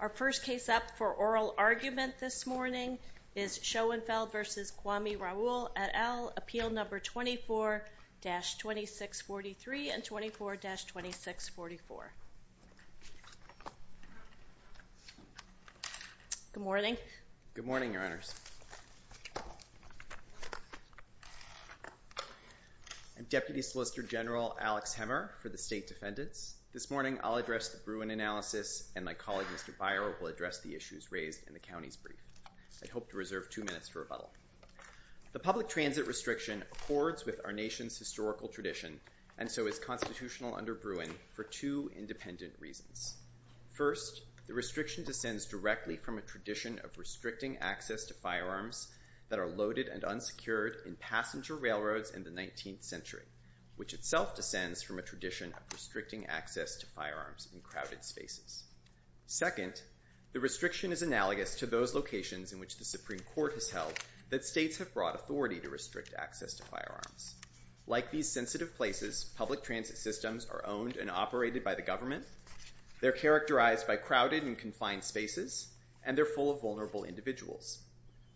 Our first case up for oral argument this morning is Schoenthal v. Kwame Raoul et al., Appeal No. 24-2643 and 24-2644. Good morning. Good morning, Your Honors. I'm Deputy Solicitor General Alex Hemmer for the State Defendants. This morning I'll address the Bruin analysis and my colleague Mr. Byer will address the issues raised in the county's brief. I hope to reserve two minutes for rebuttal. The public transit restriction accords with our nation's historical tradition and so is constitutional under Bruin for two independent reasons. First, the restriction descends directly from a tradition of restricting access to firearms that are loaded and unsecured in passenger railroads in the 19th century, which itself descends from a tradition of restricting access to firearms in crowded spaces. Second, the restriction is analogous to those locations in which the Supreme Court has held that states have brought authority to restrict access to firearms. Like these sensitive places, public transit systems are owned and operated by the government, they're characterized by crowded and confined spaces, and they're full of vulnerable individuals.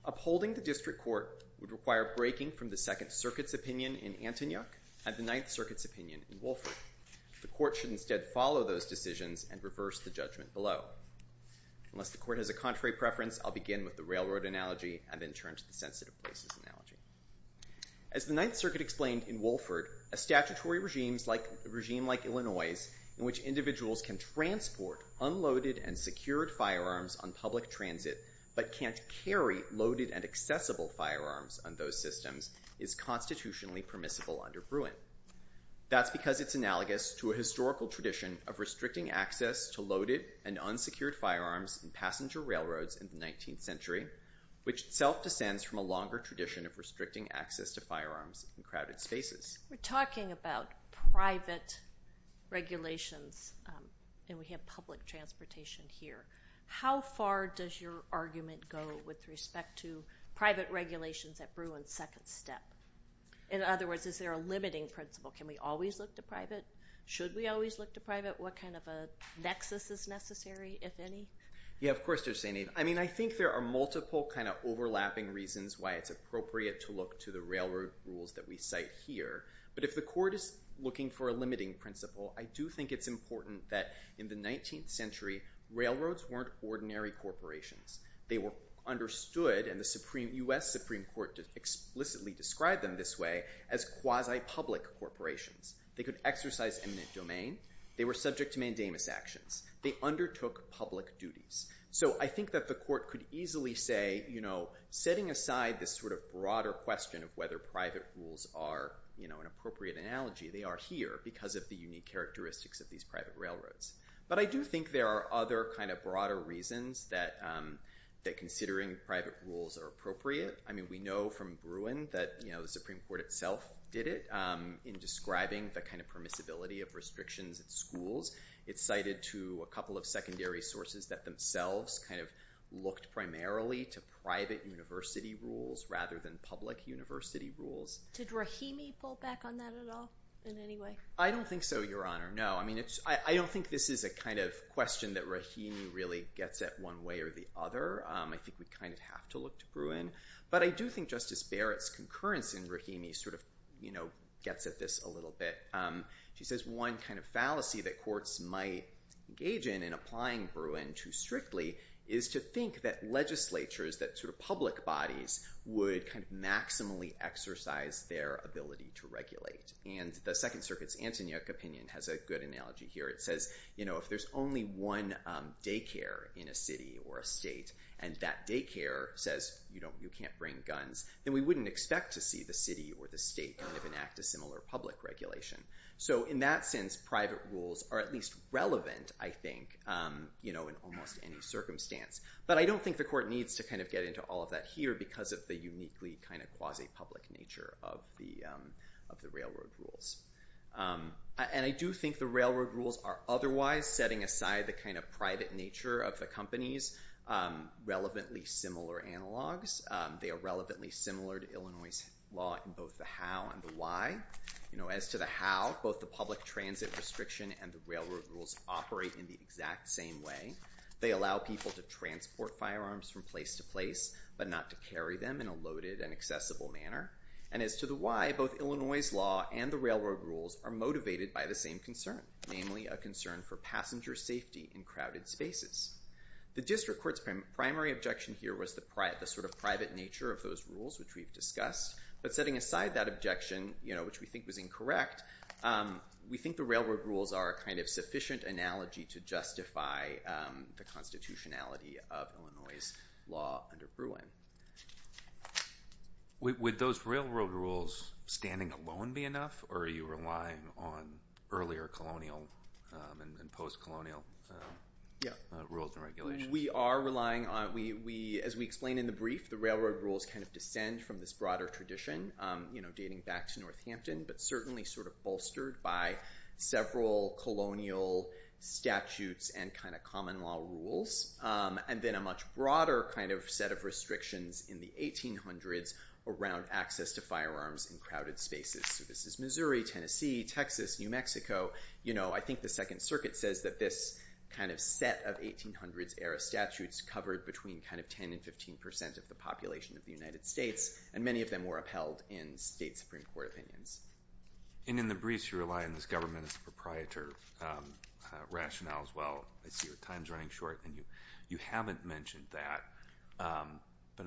Upholding the district court would require breaking from the Second Circuit's opinion in Antonyuk and the Ninth Circuit's opinion in Wolford. The court should instead follow those decisions and reverse the judgment below. Unless the court has a contrary preference, I'll begin with the railroad analogy and then turn to the sensitive places analogy. As the Ninth Circuit explained in Wolford, a statutory regime like Illinois' in which individuals can transport unloaded and secured firearms on public transit but can't carry loaded and accessible firearms on those systems is constitutionally permissible under Bruin. That's because it's analogous to a historical tradition of restricting access to loaded and unsecured firearms in passenger railroads in the 19th century, which itself descends from a longer tradition of restricting access to firearms in crowded spaces. We're talking about private regulations and we have public transportation here. How far does your argument go with respect to private regulations at Bruin's second step? In other words, is there a limiting principle? Can we always look to private? Should we always look to private? What kind of a nexus is necessary, if any? Yeah, of course, Judge St. Eve. I mean, I think there are multiple kind of overlapping reasons why it's appropriate to look to the railroad rules that we cite here. But if the court is looking for a limiting principle, I do think it's important that in the 19th century, railroads weren't ordinary corporations. They were understood, and the U.S. Supreme Court explicitly described them this way, as quasi-public corporations. They could exercise eminent domain. They were subject to mandamus actions. They undertook public duties. So I think that the court could easily say, you know, setting aside this sort of broader question of whether private rules are, you know, an appropriate analogy, they are here because of the unique characteristics of these private railroads. But I do think there are other kind of broader reasons that considering private rules are appropriate. I mean, we know from Bruin that, you know, the Supreme Court itself did it in describing the kind of permissibility of restrictions at schools. It's cited to a couple of secondary sources that themselves kind of looked primarily to private university rules rather than public university rules. Did Rahimi pull back on that at all in any way? I don't think so, Your Honor. No. I mean, I don't think this is a kind of question that Rahimi really gets at one way or the other. I think we kind of have to look to Bruin. But I do think Justice Barrett's concurrence in Rahimi sort of, you know, gets at this a little bit. She says one kind of fallacy that courts might engage in in applying Bruin too strictly is to think that legislatures, that sort of public bodies, would kind of maximally exercise their ability to regulate. And the Second Circuit's Antonyuk opinion has a good analogy here. It says, you know, if there's only one daycare in a city or a state and that daycare says, you know, you can't bring guns, then we wouldn't expect to see the city or the state kind of enact a similar public regulation. So in that sense, private rules are at least relevant, I think, you know, in almost any But I don't think the court needs to kind of get into all of that here because of the uniquely kind of quasi-public nature of the railroad rules. And I do think the railroad rules are otherwise setting aside the kind of private nature of the companies, relevantly similar analogs. They are relevantly similar to Illinois' law in both the how and the why. You know, as to the how, both the public transit restriction and the railroad rules operate in the exact same way. They allow people to transport firearms from place to place, but not to carry them in a loaded and accessible manner. And as to the why, both Illinois' law and the railroad rules are motivated by the same concern, namely a concern for passenger safety in crowded spaces. The district court's primary objection here was the sort of private nature of those rules, which we've discussed. But setting aside that objection, you know, which we think was incorrect, we think the railroad rules are a kind of sufficient analogy to justify the constitutionality of Illinois' law under Bruin. Would those railroad rules standing alone be enough, or are you relying on earlier colonial and post-colonial rules and regulations? We are relying on, as we explained in the brief, the railroad rules kind of descend from this broader tradition, you know, dating back to Northampton, but certainly sort of bolstered by several colonial statutes and kind of common law rules. And then a much broader kind of set of restrictions in the 1800s around access to firearms in crowded spaces. So this is Missouri, Tennessee, Texas, New Mexico. You know, I think the Second Circuit says that this kind of set of 1800s-era statutes covered between kind of 10 and 15 percent of the population of the United States, and many of them were upheld in state Supreme Court opinions. And in the briefs, you rely on this government as a proprietor rationale as well. I see your time's running short, and you haven't mentioned that, but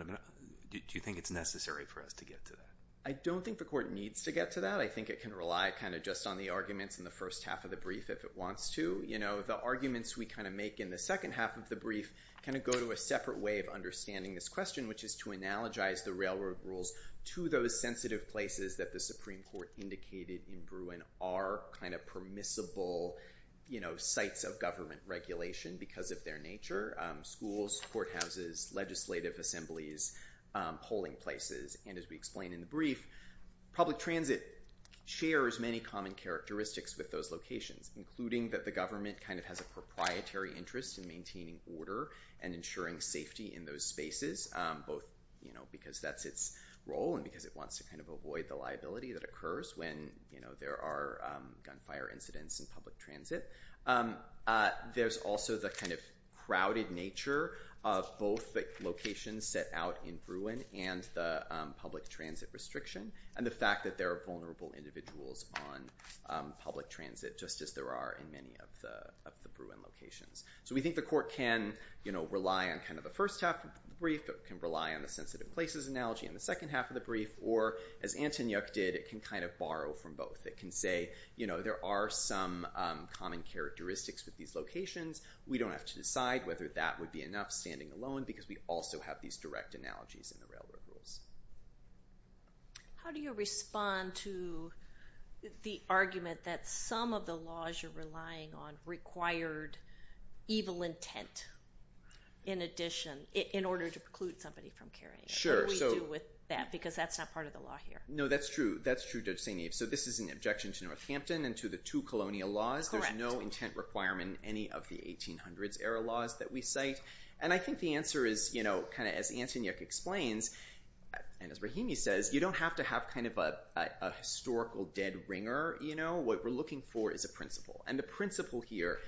do you think it's necessary for us to get to that? I don't think the court needs to get to that. I think it can rely kind of just on the arguments in the first half of the brief if it wants to. You know, the arguments we kind of make in the second half of the brief kind of go to a separate way of understanding this question, which is to analogize the railroad rules to those sensitive places that the Supreme Court indicated in Bruin are kind of permissible, you know, sites of government regulation because of their nature, schools, courthouses, legislative assemblies, polling places. And as we explain in the brief, public transit shares many common characteristics with those locations, including that the government kind of has a proprietary interest in maintaining order and ensuring safety in those spaces, both, you know, because that's its role and because it wants to kind of avoid the liability that occurs when, you know, there are gunfire incidents in public transit. There's also the kind of crowded nature of both the locations set out in Bruin and the public transit restriction, and the fact that there are vulnerable individuals on public transit, just as there are in many of the Bruin locations. So we think the court can, you know, rely on kind of the first half of the brief, it can rely on the sensitive places analogy in the second half of the brief, or as Antoniuk did, it can kind of borrow from both. It can say, you know, there are some common characteristics with these locations. We don't have to decide whether that would be enough standing alone because we also have these direct analogies in the railroad rules. How do you respond to the argument that some of the laws you're relying on required evil intent in addition, in order to preclude somebody from carrying it? Sure. What do we do with that? Because that's not part of the law here. No, that's true. That's true, Judge St. Eve. So this is an objection to Northampton and to the two colonial laws. Correct. There's no intent requirement in any of the 1800s era laws that we cite, and I think the answer is, you know, kind of as Antoniuk explains, and as Rahimi says, you don't have to have kind of a historical dead ringer, you know, what we're looking for is a principle. And the principle here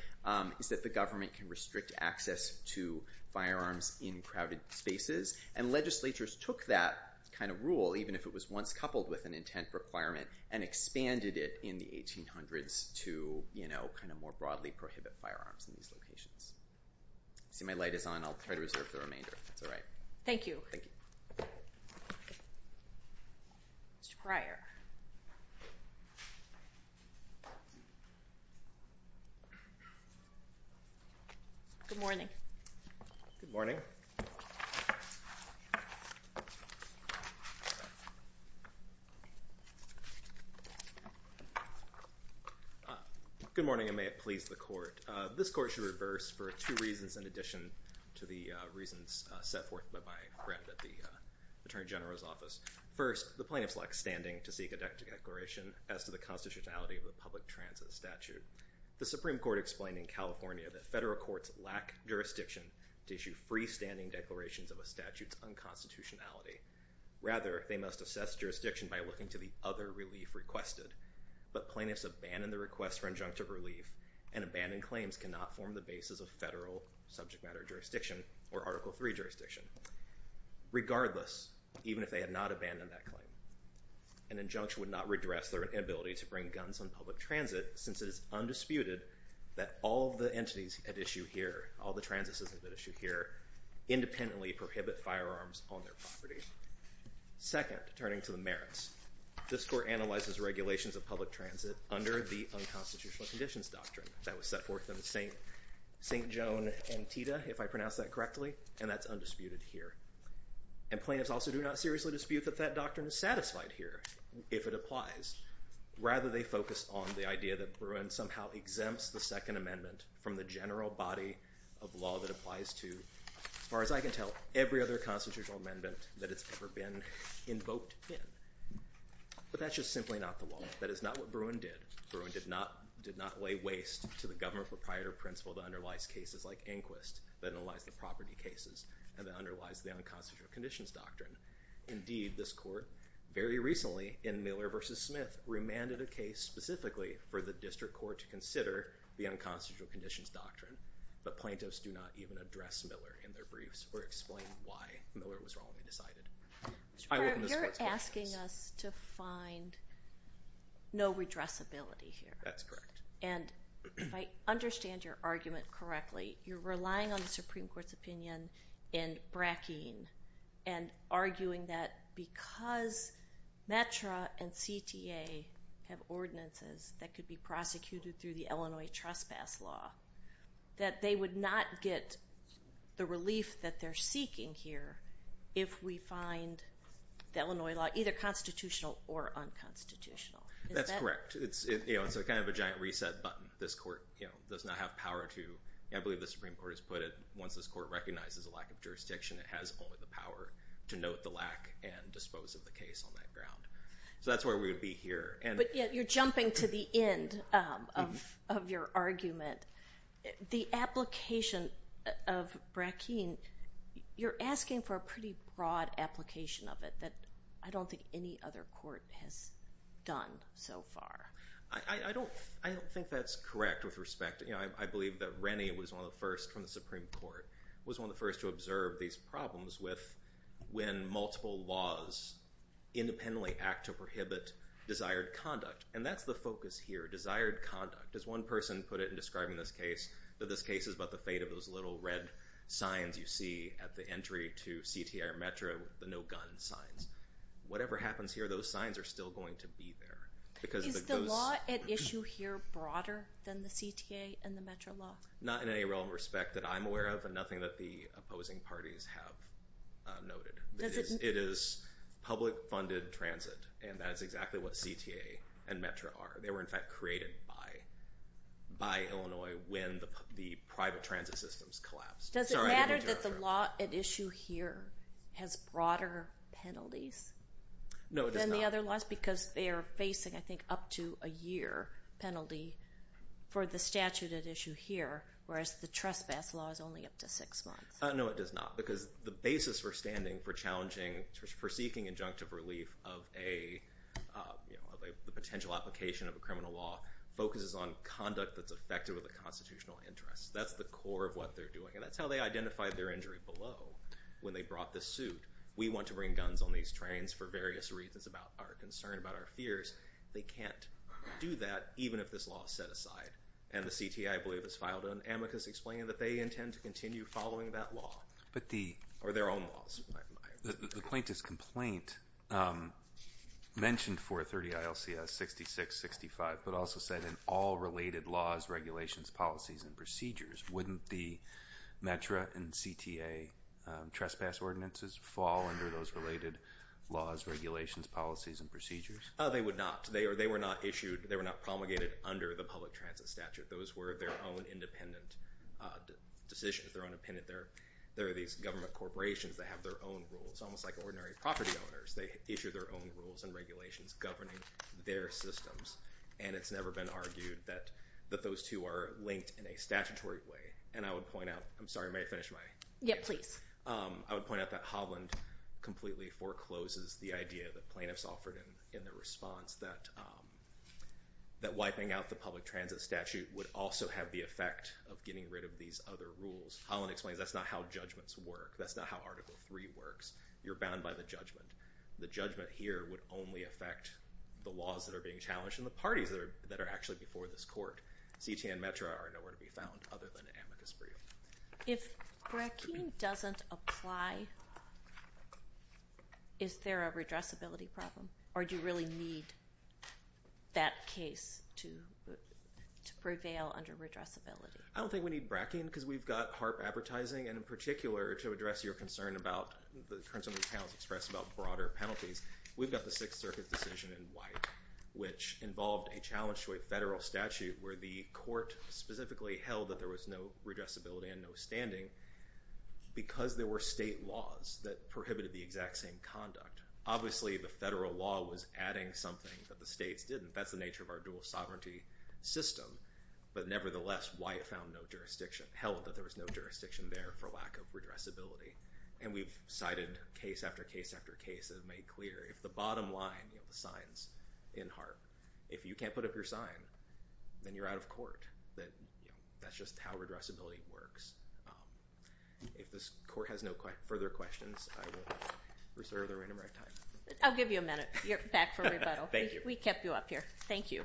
is that the government can restrict access to firearms in crowded spaces, and legislatures took that kind of rule, even if it was once coupled with an intent requirement, and expanded it in the 1800s to, you know, kind of more broadly prohibit firearms in these locations. See, my light is on. I'll try to reserve the remainder, if that's all right. Thank you. Thank you. Mr. Pryor. Good morning. Good morning. Good morning, and may it please the Court. This Court should reverse for two reasons in addition to the reasons set forth by my friend at the Attorney General's office. First, the plaintiffs lack standing to seek a declaration as to the constitutionality of the public transit statute. The Supreme Court explained in California that federal courts lack jurisdiction to issue freestanding declarations of a statute's unconstitutionality. Rather, they must assess jurisdiction by looking to the other relief requested. But plaintiffs abandon the request for injunctive relief, and abandoned claims cannot form the basis of federal subject matter jurisdiction or Article III jurisdiction. Regardless, even if they had not abandoned that claim, an injunction would not redress their inability to bring guns on public transit, since it is undisputed that all the entities at issue here, all the transits at issue here, independently prohibit firearms on their property. Second, turning to the merits, this Court analyzes regulations of public transit under the Unconstitutional Conditions Doctrine that was set forth in St. Joan Antietam, if I pronounced that correctly, and that's undisputed here. And plaintiffs also do not seriously dispute that that doctrine is satisfied here, if it applies. Rather, they focus on the idea that Bruin somehow exempts the Second Amendment from the general body of law that applies to, as far as I can tell, every other constitutional amendment that has ever been invoked in. But that's just simply not the law. That is not what Bruin did. Bruin did not lay waste to the government proprietor principle that underlies cases like Inquist, that underlies the property cases, and that underlies the Unconstitutional Conditions Doctrine. Indeed, this Court, very recently, in Miller v. Smith, remanded a case specifically for the District Court to consider the Unconstitutional Conditions Doctrine, but plaintiffs do not even address Miller in their briefs or explain why Miller was wrongly decided. I welcome this Court's questions. You're asking us to find no redressability here. That's correct. And if I understand your argument correctly, you're relying on the Supreme Court's opinion in Brackeen and arguing that because METRA and CTA have ordinances that could be prosecuted through the Illinois Trespass Law, that they would not get the relief that they're seeking here if we find the Illinois law either constitutional or unconstitutional. Is that correct? That's correct. It's kind of a giant reset button. This Court does not have power to, I believe the Supreme Court has put it, once this Court recognizes a lack of jurisdiction, it has only the power to note the lack and dispose of the case on that ground. So that's where we would be here. But yet you're jumping to the end of your argument. The application of Brackeen, you're asking for a pretty broad application of it that I don't think any other court has done so far. I don't think that's correct with respect. I believe that Rennie was one of the first from the Supreme Court, was one of the first to observe these problems with when multiple laws independently act to prohibit desired conduct. And that's the focus here. Desired conduct. As one person put it in describing this case, that this case is about the fate of those little red signs you see at the entry to CTA or METRA, the no gun signs. Whatever happens here, those signs are still going to be there. Is the law at issue here broader than the CTA and the METRA law? Not in any realm of respect that I'm aware of and nothing that the opposing parties have noted. It is public funded transit and that is exactly what CTA and METRA are. They were in fact created by Illinois when the private transit systems collapsed. Does it matter that the law at issue here has broader penalties than the other laws? Just because they are facing, I think, up to a year penalty for the statute at issue here, whereas the trespass law is only up to six months. No, it does not. Because the basis for standing, for challenging, for seeking injunctive relief of a potential application of a criminal law, focuses on conduct that's affected with a constitutional interest. That's the core of what they're doing. And that's how they identified their injury below when they brought this suit. We want to bring guns on these trains for various reasons about our concern, about our fears. They can't do that even if this law is set aside and the CTA, I believe, has filed an amicus explaining that they intend to continue following that law or their own laws. The plaintiff's complaint mentioned 430 ILCS 6665, but also said in all related laws, regulations, policies, and procedures, wouldn't the METRA and CTA trespass ordinances fall under those related laws, regulations, policies, and procedures? They would not. They were not issued, they were not promulgated under the public transit statute. Those were their own independent decisions. They're independent. They're these government corporations that have their own rules, almost like ordinary property owners. They issue their own rules and regulations governing their systems. And it's never been argued that those two are linked in a statutory way. And I would point out, I'm sorry, may I finish my answer? Yeah, please. I would point out that Holland completely forecloses the idea that plaintiffs offered in their response that wiping out the public transit statute would also have the effect of getting rid of these other rules. Holland explains that's not how judgments work. That's not how Article III works. You're bound by the judgment. The judgment here would only affect the laws that are being challenged and the parties that are actually before this court. CTA and METRA are nowhere to be found other than an amicus brief. If Brackeen doesn't apply, is there a redressability problem? Or do you really need that case to prevail under redressability? I don't think we need Brackeen because we've got HAARP advertising. And in particular, to address your concern about the concerns of the panelists expressed about broader penalties, we've got the Sixth Circuit's decision in White, which involved a challenge to a federal statute where the court specifically held that there was no redressability and no standing because there were state laws that prohibited the exact same conduct. Obviously, the federal law was adding something that the states didn't. That's the nature of our dual sovereignty system. But nevertheless, White found no jurisdiction, held that there was no jurisdiction there for lack of redressability. And we've cited case after case after case and made clear, if the bottom line, the signs in HAARP, if you can't put up your sign, then you're out of court. That's just how redressability works. If this court has no further questions, I will reserve the random rec time. I'll give you a minute. You're back for rebuttal. Thank you. We kept you up here. Thank you.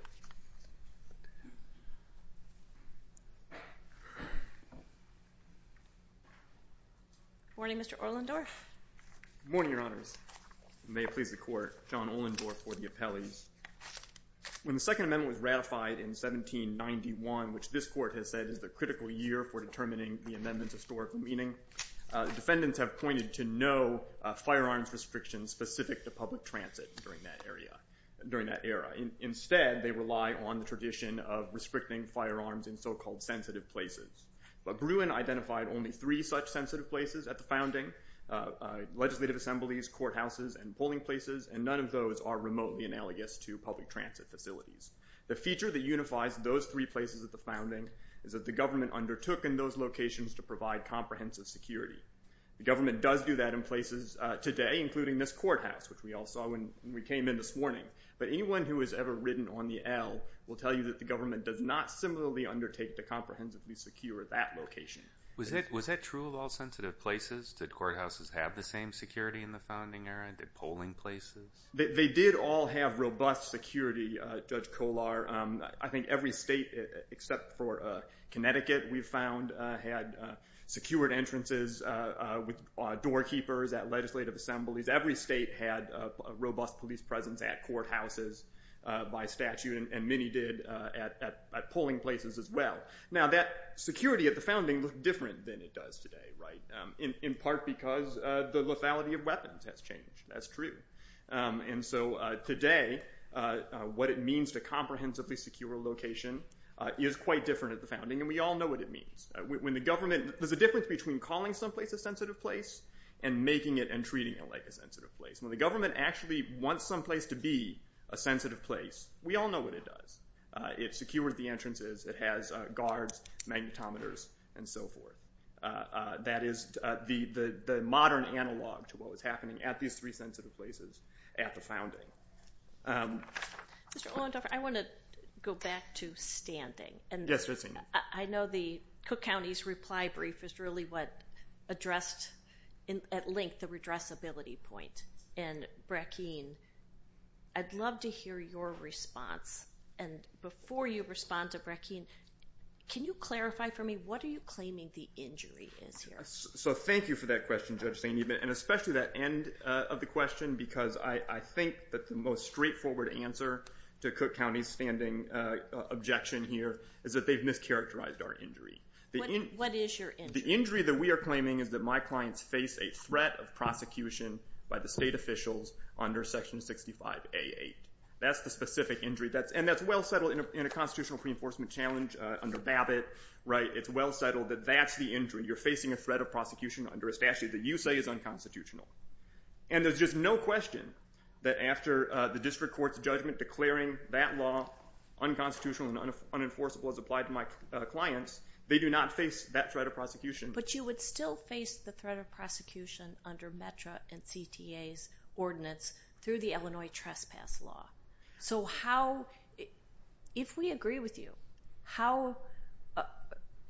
Morning, Mr. Ohlendorf. Morning, Your Honors. May it please the Court, John Ohlendorf for the appellees. When the Second Amendment was ratified in 1791, which this court has said is the critical year for determining the amendment's historical meaning, defendants have pointed to no firearms restrictions specific to public transit during that era. Instead, they rely on the tradition of restricting firearms in so-called sensitive places. But Bruin identified only three such sensitive places at the founding. Legislative assemblies, courthouses, and polling places, and none of those are remotely analogous to public transit facilities. The feature that unifies those three places at the founding is that the government undertook in those locations to provide comprehensive security. The government does do that in places today, including this courthouse, which we all saw when we came in this morning. But anyone who has ever ridden on the L will tell you that the government does not similarly undertake to comprehensively secure that location. Was that true of all sensitive places? Did courthouses have the same security in the founding era? Did polling places? They did all have robust security, Judge Kolar. I think every state except for Connecticut, we've found, had secured entrances with doorkeepers at legislative assemblies. Every state had a robust police presence at courthouses by statute, and many did at polling places as well. Now that security at the founding looked different than it does today, in part because the lethality of weapons has changed. That's true. And so today, what it means to comprehensively secure a location is quite different at the founding, and we all know what it means. When the government... There's a difference between calling some place a sensitive place and making it and treating it like a sensitive place. When the government actually wants some place to be a sensitive place, we all know what it does. It secures the entrances. It has guards, magnetometers, and so forth. That is the modern analog to what was happening at these three sensitive places at the founding. Mr. Olandoffer, I want to go back to standing, and I know the Cook County's reply brief is really what addressed, at length, the redressability point, and Brackeen, I'd love to hear your response, and before you respond to Brackeen, can you clarify for me what are you claiming the injury is here? So thank you for that question, Judge St. Edmund, and especially that end of the question, because I think that the most straightforward answer to Cook County's standing objection here is that they've mischaracterized our injury. What is your injury? The injury that we are claiming is that my clients face a threat of prosecution by the state officials under Section 65A8. That's the specific injury, and that's well settled in a constitutional pre-enforcement challenge under Babbitt, right? It's well settled that that's the injury. You're facing a threat of prosecution under a statute that you say is unconstitutional, and there's just no question that after the district court's judgment declaring that law unconstitutional and unenforceable as applied to my clients, they do not face that threat of prosecution. But you would still face the threat of prosecution under METRA and CTA's ordinance through the So how, if we agree with you, how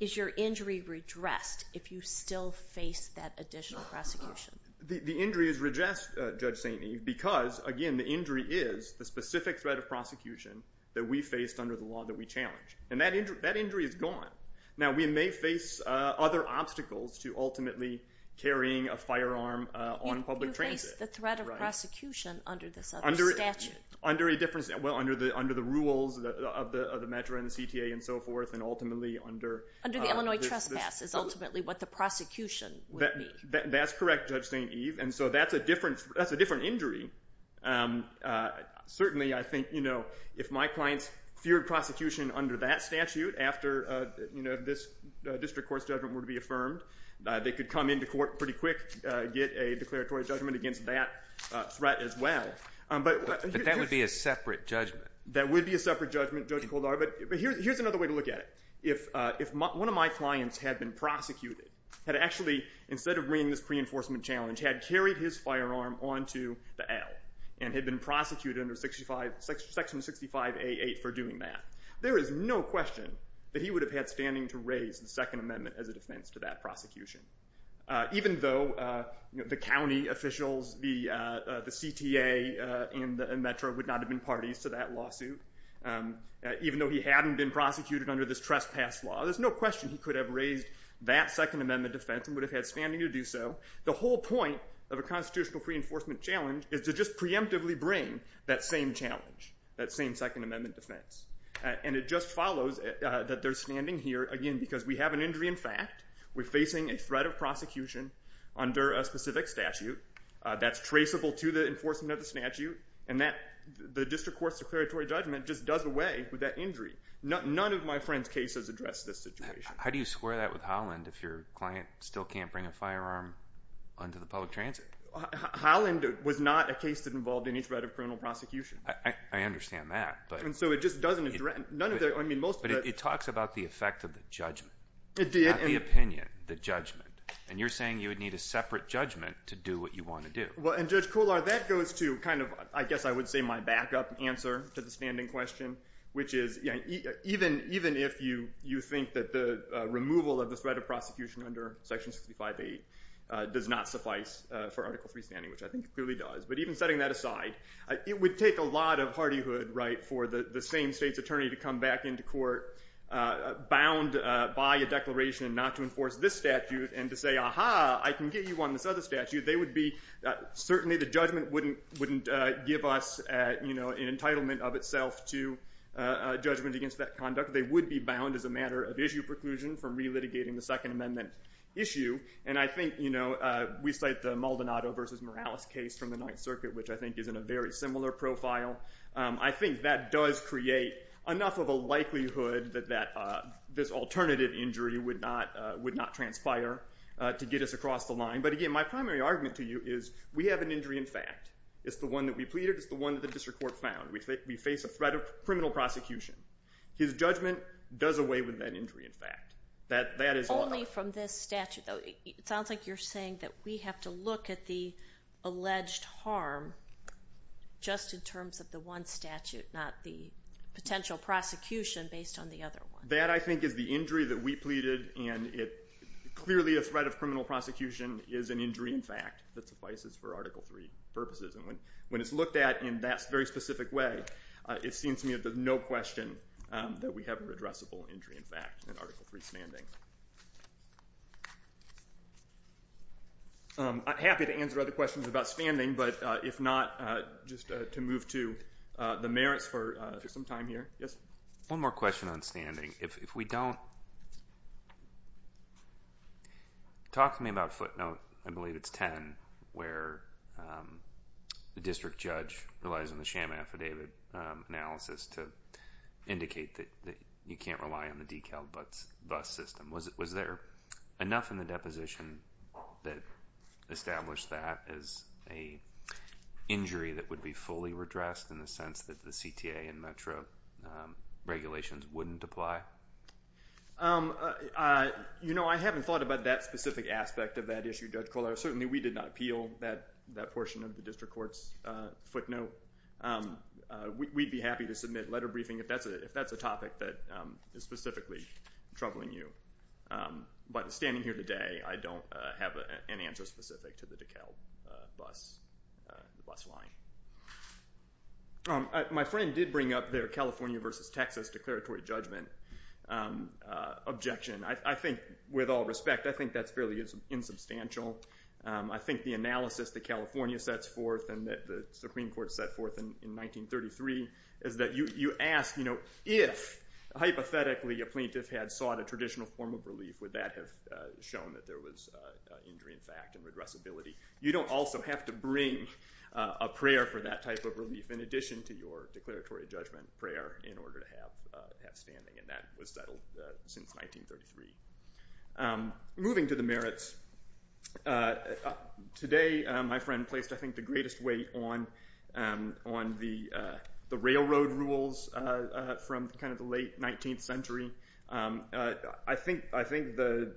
is your injury redressed if you still face that additional prosecution? The injury is redressed, Judge St. Edmund, because again, the injury is the specific threat of prosecution that we faced under the law that we challenged, and that injury is gone. Now, we may face other obstacles to ultimately carrying a firearm on public transit. You face the threat of prosecution under this other statute. Under a different statute? Well, under the rules of the METRA and the CTA and so forth, and ultimately under... Under the Illinois trespass is ultimately what the prosecution would be. That's correct, Judge St. Eve, and so that's a different injury. Certainly I think if my clients feared prosecution under that statute after this district court's judgment were to be affirmed, they could come into court pretty quick, get a declaratory judgment against that threat as well. But that would be a separate judgment. That would be a separate judgment, Judge Koldar, but here's another way to look at it. If one of my clients had been prosecuted, had actually, instead of bringing this pre-enforcement challenge, had carried his firearm onto the L and had been prosecuted under Section 65A8 for doing that, there is no question that he would have had standing to raise the Second Amendment as a defense to that prosecution. Even though the county officials, the CTA and METRA would not have been parties to that lawsuit, even though he hadn't been prosecuted under this trespass law, there's no question he could have raised that Second Amendment defense and would have had standing to do so. The whole point of a constitutional pre-enforcement challenge is to just preemptively bring that same challenge, that same Second Amendment defense. And it just follows that they're standing here, again, because we have an injury in fact. We're facing a threat of prosecution under a specific statute that's traceable to the enforcement of the statute, and the district court's declaratory judgment just does away with that injury. None of my friends' cases address this situation. How do you square that with Holland if your client still can't bring a firearm onto the public transit? Holland was not a case that involved any threat of criminal prosecution. I understand that. And so it just doesn't address, none of the, I mean, most of the... But it talks about the effect of the judgment. It did. The judgment. And you're saying you would need a separate judgment to do what you want to do. Well, and Judge Kullar, that goes to kind of, I guess I would say, my backup answer to the standing question, which is, even if you think that the removal of the threat of prosecution under Section 65A does not suffice for Article III standing, which I think it clearly does, but even setting that aside, it would take a lot of hardyhood for the same state's attorney to come back into court bound by a declaration not to enforce this statute and to say, aha, I can get you on this other statute. They would be, certainly the judgment wouldn't give us an entitlement of itself to a judgment against that conduct. They would be bound as a matter of issue preclusion from relitigating the Second Amendment issue. And I think, you know, we cite the Maldonado versus Morales case from the Ninth Circuit, which I think is in a very similar profile. I think that does create enough of a likelihood that this alternative injury would not transpire to get us across the line. But again, my primary argument to you is, we have an injury in fact. It's the one that we pleaded. It's the one that the district court found. We face a threat of criminal prosecution. His judgment does away with that injury in fact. That is all. Only from this statute, though, it sounds like you're saying that we have to look at the alleged harm just in terms of the one statute, not the potential prosecution based on the other one. That, I think, is the injury that we pleaded, and it clearly a threat of criminal prosecution is an injury in fact that suffices for Article III purposes. And when it's looked at in that very specific way, it seems to me that there's no question that we have an addressable injury in fact in Article III standing. I'm happy to answer other questions about standing, but if not, just to move to the merits for some time here. One more question on standing. If we don't, talk to me about footnote, I believe it's 10, where the district judge relies on the sham affidavit analysis to indicate that you can't rely on the decal bus system. Was there enough in the deposition that established that as an injury that would be fully redressed in the sense that the CTA and metro regulations wouldn't apply? You know, I haven't thought about that specific aspect of that issue, Judge Collard. Certainly, we did not appeal that portion of the district court's footnote. We'd be happy to submit letter briefing if that's a topic that is specifically troubling you, but standing here today, I don't have an answer specific to the decal bus line. My friend did bring up their California versus Texas declaratory judgment objection. I think with all respect, I think that's fairly insubstantial. I think the analysis that California sets forth and that the Supreme Court set forth in 1933 is that you ask if, hypothetically, a plaintiff had sought a traditional form of relief, would that have shown that there was injury in fact and redressability? You don't also have to bring a prayer for that type of relief in addition to your declaratory judgment prayer in order to have that standing, and that was settled since 1933. Moving to the merits, today, my friend placed, I think, the greatest weight on the railroad rules from kind of the late 19th century. I think the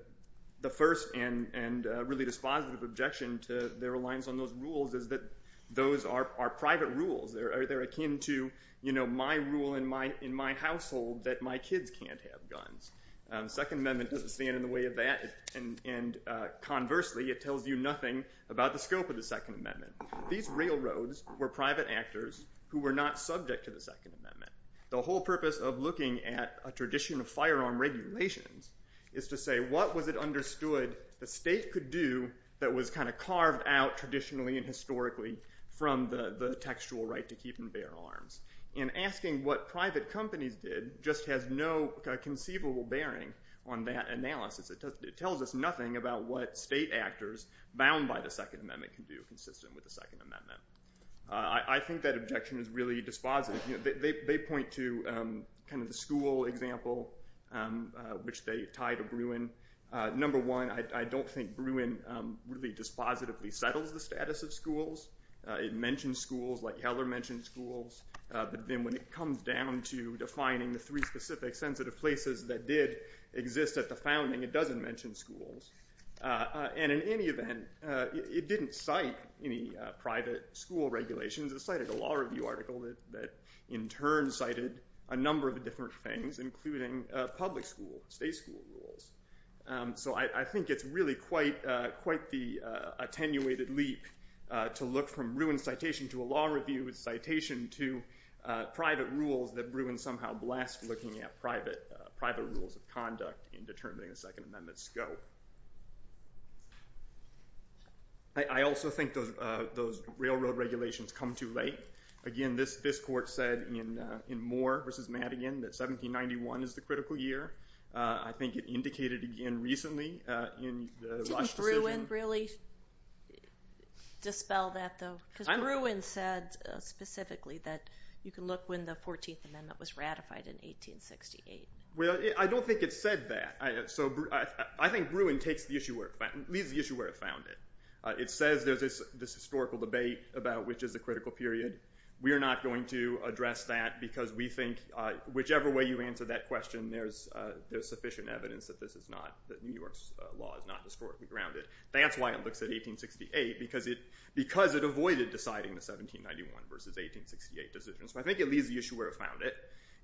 first and really dispositive objection to their reliance on those rules is that those are private rules. They're akin to, you know, my rule in my household that my kids can't have guns. The Second Amendment doesn't stand in the way of that, and conversely, it tells you nothing about the scope of the Second Amendment. These railroads were private actors who were not subject to the Second Amendment. The whole purpose of looking at a tradition of firearm regulations is to say, what was it understood the state could do that was kind of carved out traditionally and historically from the textual right to keep and bear arms? And asking what private companies did just has no conceivable bearing on that analysis. It tells us nothing about what state actors bound by the Second Amendment can do consistent with the Second Amendment. I think that objection is really dispositive. They point to kind of the school example, which they tie to Bruin. Number one, I don't think Bruin really dispositively settles the status of schools. It mentions schools like Heller mentioned schools, but then when it comes down to defining the three specific sensitive places that did exist at the founding, it doesn't mention schools. And in any event, it didn't cite any private school regulations. It cited a law review article that in turn cited a number of different things, including public school, state school rules. So I think it's really quite the attenuated leap to look from Bruin citation to a law review citation to private rules that Bruin somehow blessed looking at private rules of conduct in determining the Second Amendment scope. I also think those railroad regulations come too late. Again, this court said in Moore v. Madigan that 1791 is the critical year. I think it indicated again recently in the Rush decision. Didn't Bruin really dispel that though? Because Bruin said specifically that you can look when the 14th Amendment was ratified in 1868. Well, I don't think it said that. I think Bruin leaves the issue where it found it. It says there's this historical debate about which is the critical period. We're not going to address that because we think whichever way you answer that question, there's sufficient evidence that New York's law is not historically grounded. That's why it looks at 1868, because it avoided deciding the 1791 v. 1868 decision. So I think it leaves the issue where it found it.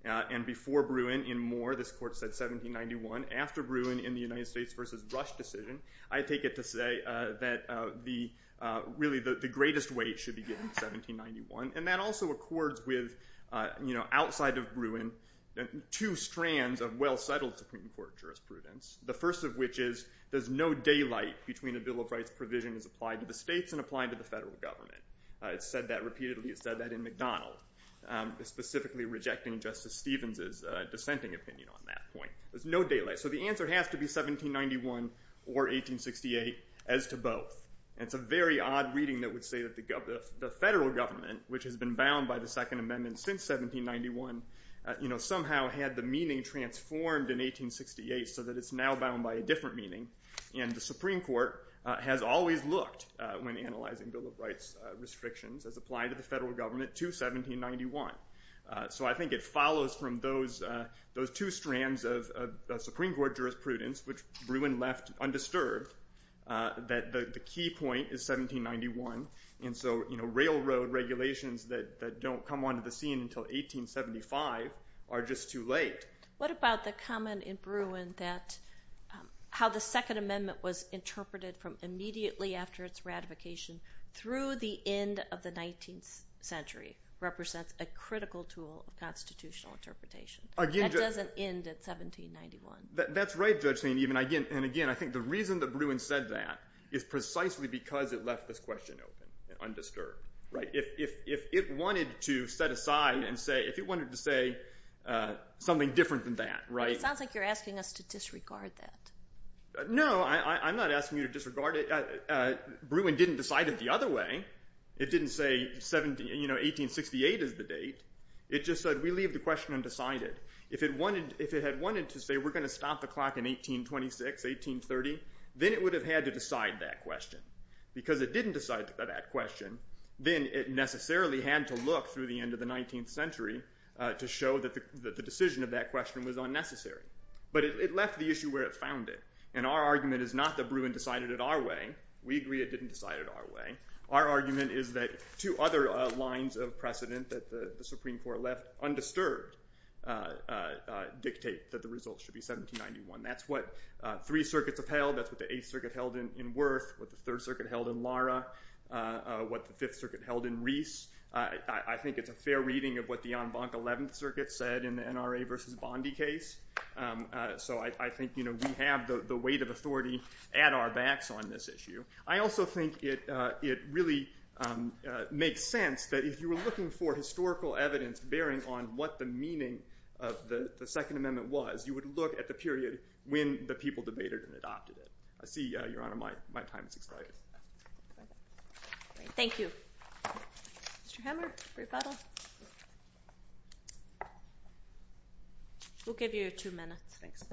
And before Bruin, in Moore, this court said 1791. After Bruin in the United States v. Rush decision, I take it to say that really the greatest weight should be given to 1791. And that also accords with, outside of Bruin, two strands of well-settled Supreme Court jurisprudence. The first of which is there's no daylight between a Bill of Rights provision is applied to the states and applied to the federal government. It said that repeatedly. It said that in McDonald, specifically rejecting Justice Stevens' dissenting opinion on that point. There's no daylight. So the answer has to be 1791 or 1868 as to both. And it's a very odd reading that would say that the federal government, which has been bound by the Second Amendment since 1791, somehow had the meaning transformed in 1868 so that it's now bound by a different meaning. And the Supreme Court has always looked, when analyzing Bill of Rights restrictions, as applied to the federal government to 1791. So I think it follows from those two strands of Supreme Court jurisprudence, which Bruin left undisturbed, that the key point is 1791. And so railroad regulations that don't come onto the scene until 1875 are just too late. What about the comment in Bruin that how the Second Amendment was interpreted from immediately after its ratification through the end of the 19th century represents a critical tool of constitutional interpretation? That doesn't end at 1791. That's right, Judge Saint-Even. And again, I think the reason that Bruin said that is precisely because it left this question open, undisturbed. If it wanted to set aside and say, if it wanted to say something different than that, right? It sounds like you're asking us to disregard that. No, I'm not asking you to disregard it. Bruin didn't decide it the other way. It didn't say 1868 is the date. It just said, we leave the question undecided. If it had wanted to say, we're going to stop the clock in 1826, 1830, then it would have had to decide that question. Because it didn't decide that question, then it necessarily had to look through the end of the 19th century to show that the decision of that question was unnecessary. But it left the issue where it found it. And our argument is not that Bruin decided it our way. We agree it didn't decide it our way. Our argument is that two other lines of precedent that the Supreme Court left undisturbed dictate that the result should be 1791. That's what three circuits upheld. That's what the Eighth Circuit held in Worth, what the Third Circuit held in Lara, what the Fifth Circuit held in Reese. I think it's a fair reading of what the en banc 11th Circuit said in the NRA versus Bondi case. So I think we have the weight of authority at our backs on this issue. I also think it really makes sense that if you were looking for historical evidence bearing on what the meaning of the Second Amendment was, you would look at the period when the people debated and adopted it. I see, Your Honor, my time is expired. Thank you. Mr. Hammer, rebuttal? We'll give you two minutes. Thanks.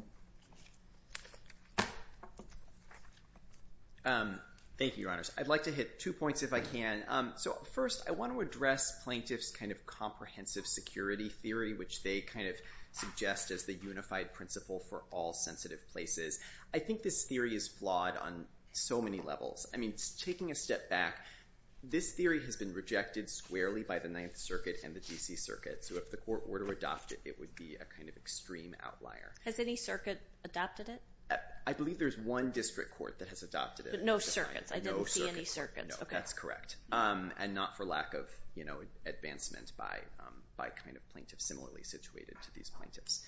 Thank you, Your Honors. I'd like to hit two points if I can. So first, I want to address plaintiff's kind of comprehensive security theory, which they kind of suggest as the unified principle for all sensitive places. I think this theory is flawed on so many levels. I mean, taking a step back, this theory has been rejected squarely by the Ninth Circuit and the DC Circuit. So if the court were to adopt it, it would be a kind of extreme outlier. Has any circuit adopted it? I believe there's one district court that has adopted it. No circuits. I didn't see any circuits. No, that's correct. And not for lack of advancement by kind of plaintiffs similarly situated to these plaintiffs.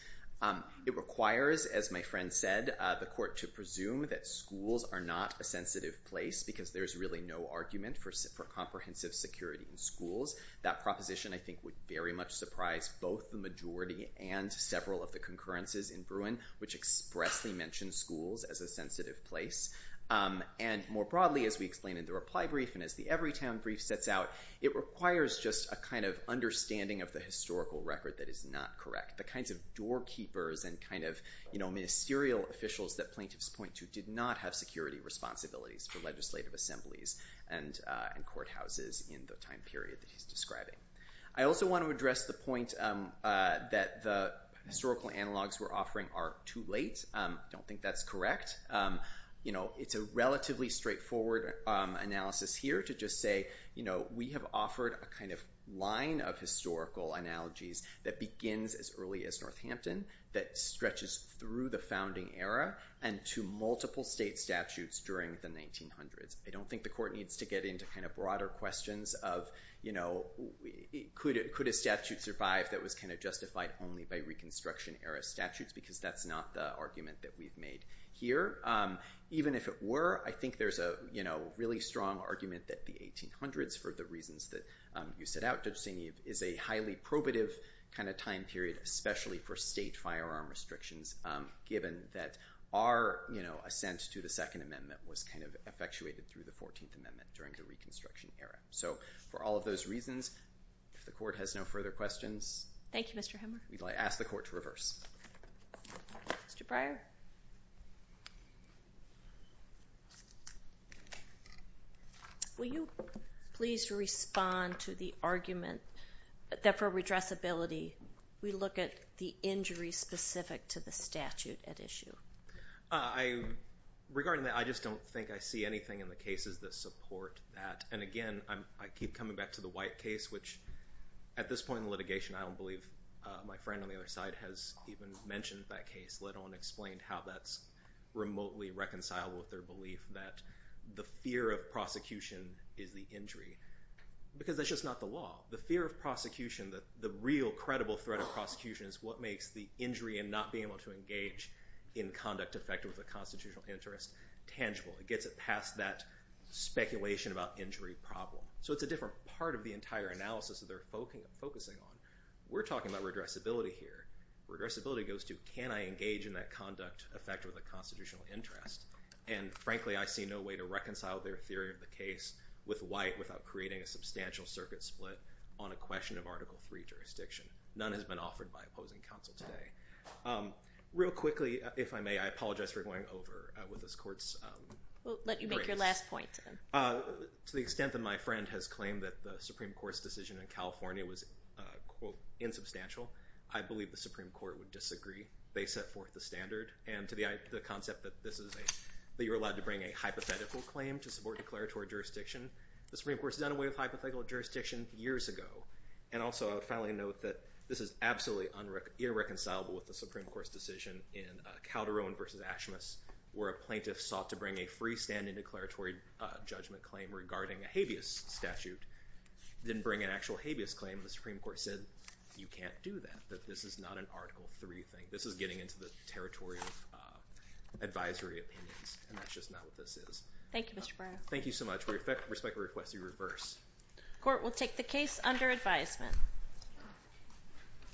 It requires, as my friend said, the court to presume that schools are not a sensitive place because there's really no argument for comprehensive security in schools. That proposition, I think, would very much surprise both the majority and several of the concurrences in Bruin, which expressly mention schools as a sensitive place. And more broadly, as we explained in the reply brief and as the Everytown brief sets out, it requires just a kind of understanding of the historical record that is not correct. The kinds of doorkeepers and kind of ministerial officials that plaintiffs point to did not have security responsibilities for legislative assemblies and courthouses in the time period that he's describing. I also want to address the point that the historical analogs we're offering are too late. Don't think that's correct. You know, it's a relatively straightforward analysis here to just say, you know, we have offered a kind of line of historical analogies that begins as early as Northampton, that stretches through the founding era, and to multiple state statutes during the 1900s. I don't think the court needs to get into kind of broader questions of, you know, could a statute survive that was kind of justified only by Reconstruction-era statutes, because that's not the argument that we've made here. Even if it were, I think there's a, you know, really strong argument that the 1800s, for the reasons that you set out, is a highly probative kind of time period, especially for state firearm restrictions, given that our, you know, assent to the Second Amendment was kind of effectuated through the 14th Amendment during the Reconstruction era. So for all of those reasons, if the court has no further questions... Thank you, Mr. Hemmer. We'd like to ask the court to reverse. Will you please respond to the argument that for redressability, we look at the injury specific to the statute at issue? I...regarding that, I just don't think I see anything in the cases that support that. And again, I keep coming back to the White case, which, at this point in the litigation, I don't believe my friend on the other side has even mentioned that case, let alone explained how that's remotely reconcilable with their belief that the fear of prosecution is the injury. Because that's just not the law. The fear of prosecution, the real credible threat of prosecution is what makes the injury and not being able to engage in conduct effective with a constitutional interest tangible. It gets it past that speculation about injury problem. So it's a different part of the entire analysis that they're focusing on. We're talking about redressability here. Redressability goes to, can I engage in that conduct effective with a constitutional interest? And frankly, I see no way to reconcile their theory of the case with White without creating a substantial circuit split on a question of Article III jurisdiction. None has been offered by opposing counsel today. Real quickly, if I may, I apologize for going over with this court's... We'll let you make your last point. To the extent that my friend has claimed that the Supreme Court's decision in California was, quote, insubstantial, I believe the Supreme Court would disagree. They set forth the standard. And to the concept that this is a, that you're allowed to bring a hypothetical claim to support declaratory jurisdiction, the Supreme Court's done away with hypothetical jurisdiction years ago. And also, I would finally note that this is absolutely irreconcilable with the Supreme Court's decision in Calderon versus Ashmus, where a plaintiff sought to bring a freestanding declaratory judgment claim regarding a habeas statute, didn't bring an actual habeas claim, and the Supreme Court said, you can't do that, that this is not an Article III thing. This is getting into the territory of advisory opinions. And that's just not what this is. Thank you, Mr. Brown. Thank you so much. We respectfully request you reverse. Court will take the case under advisement.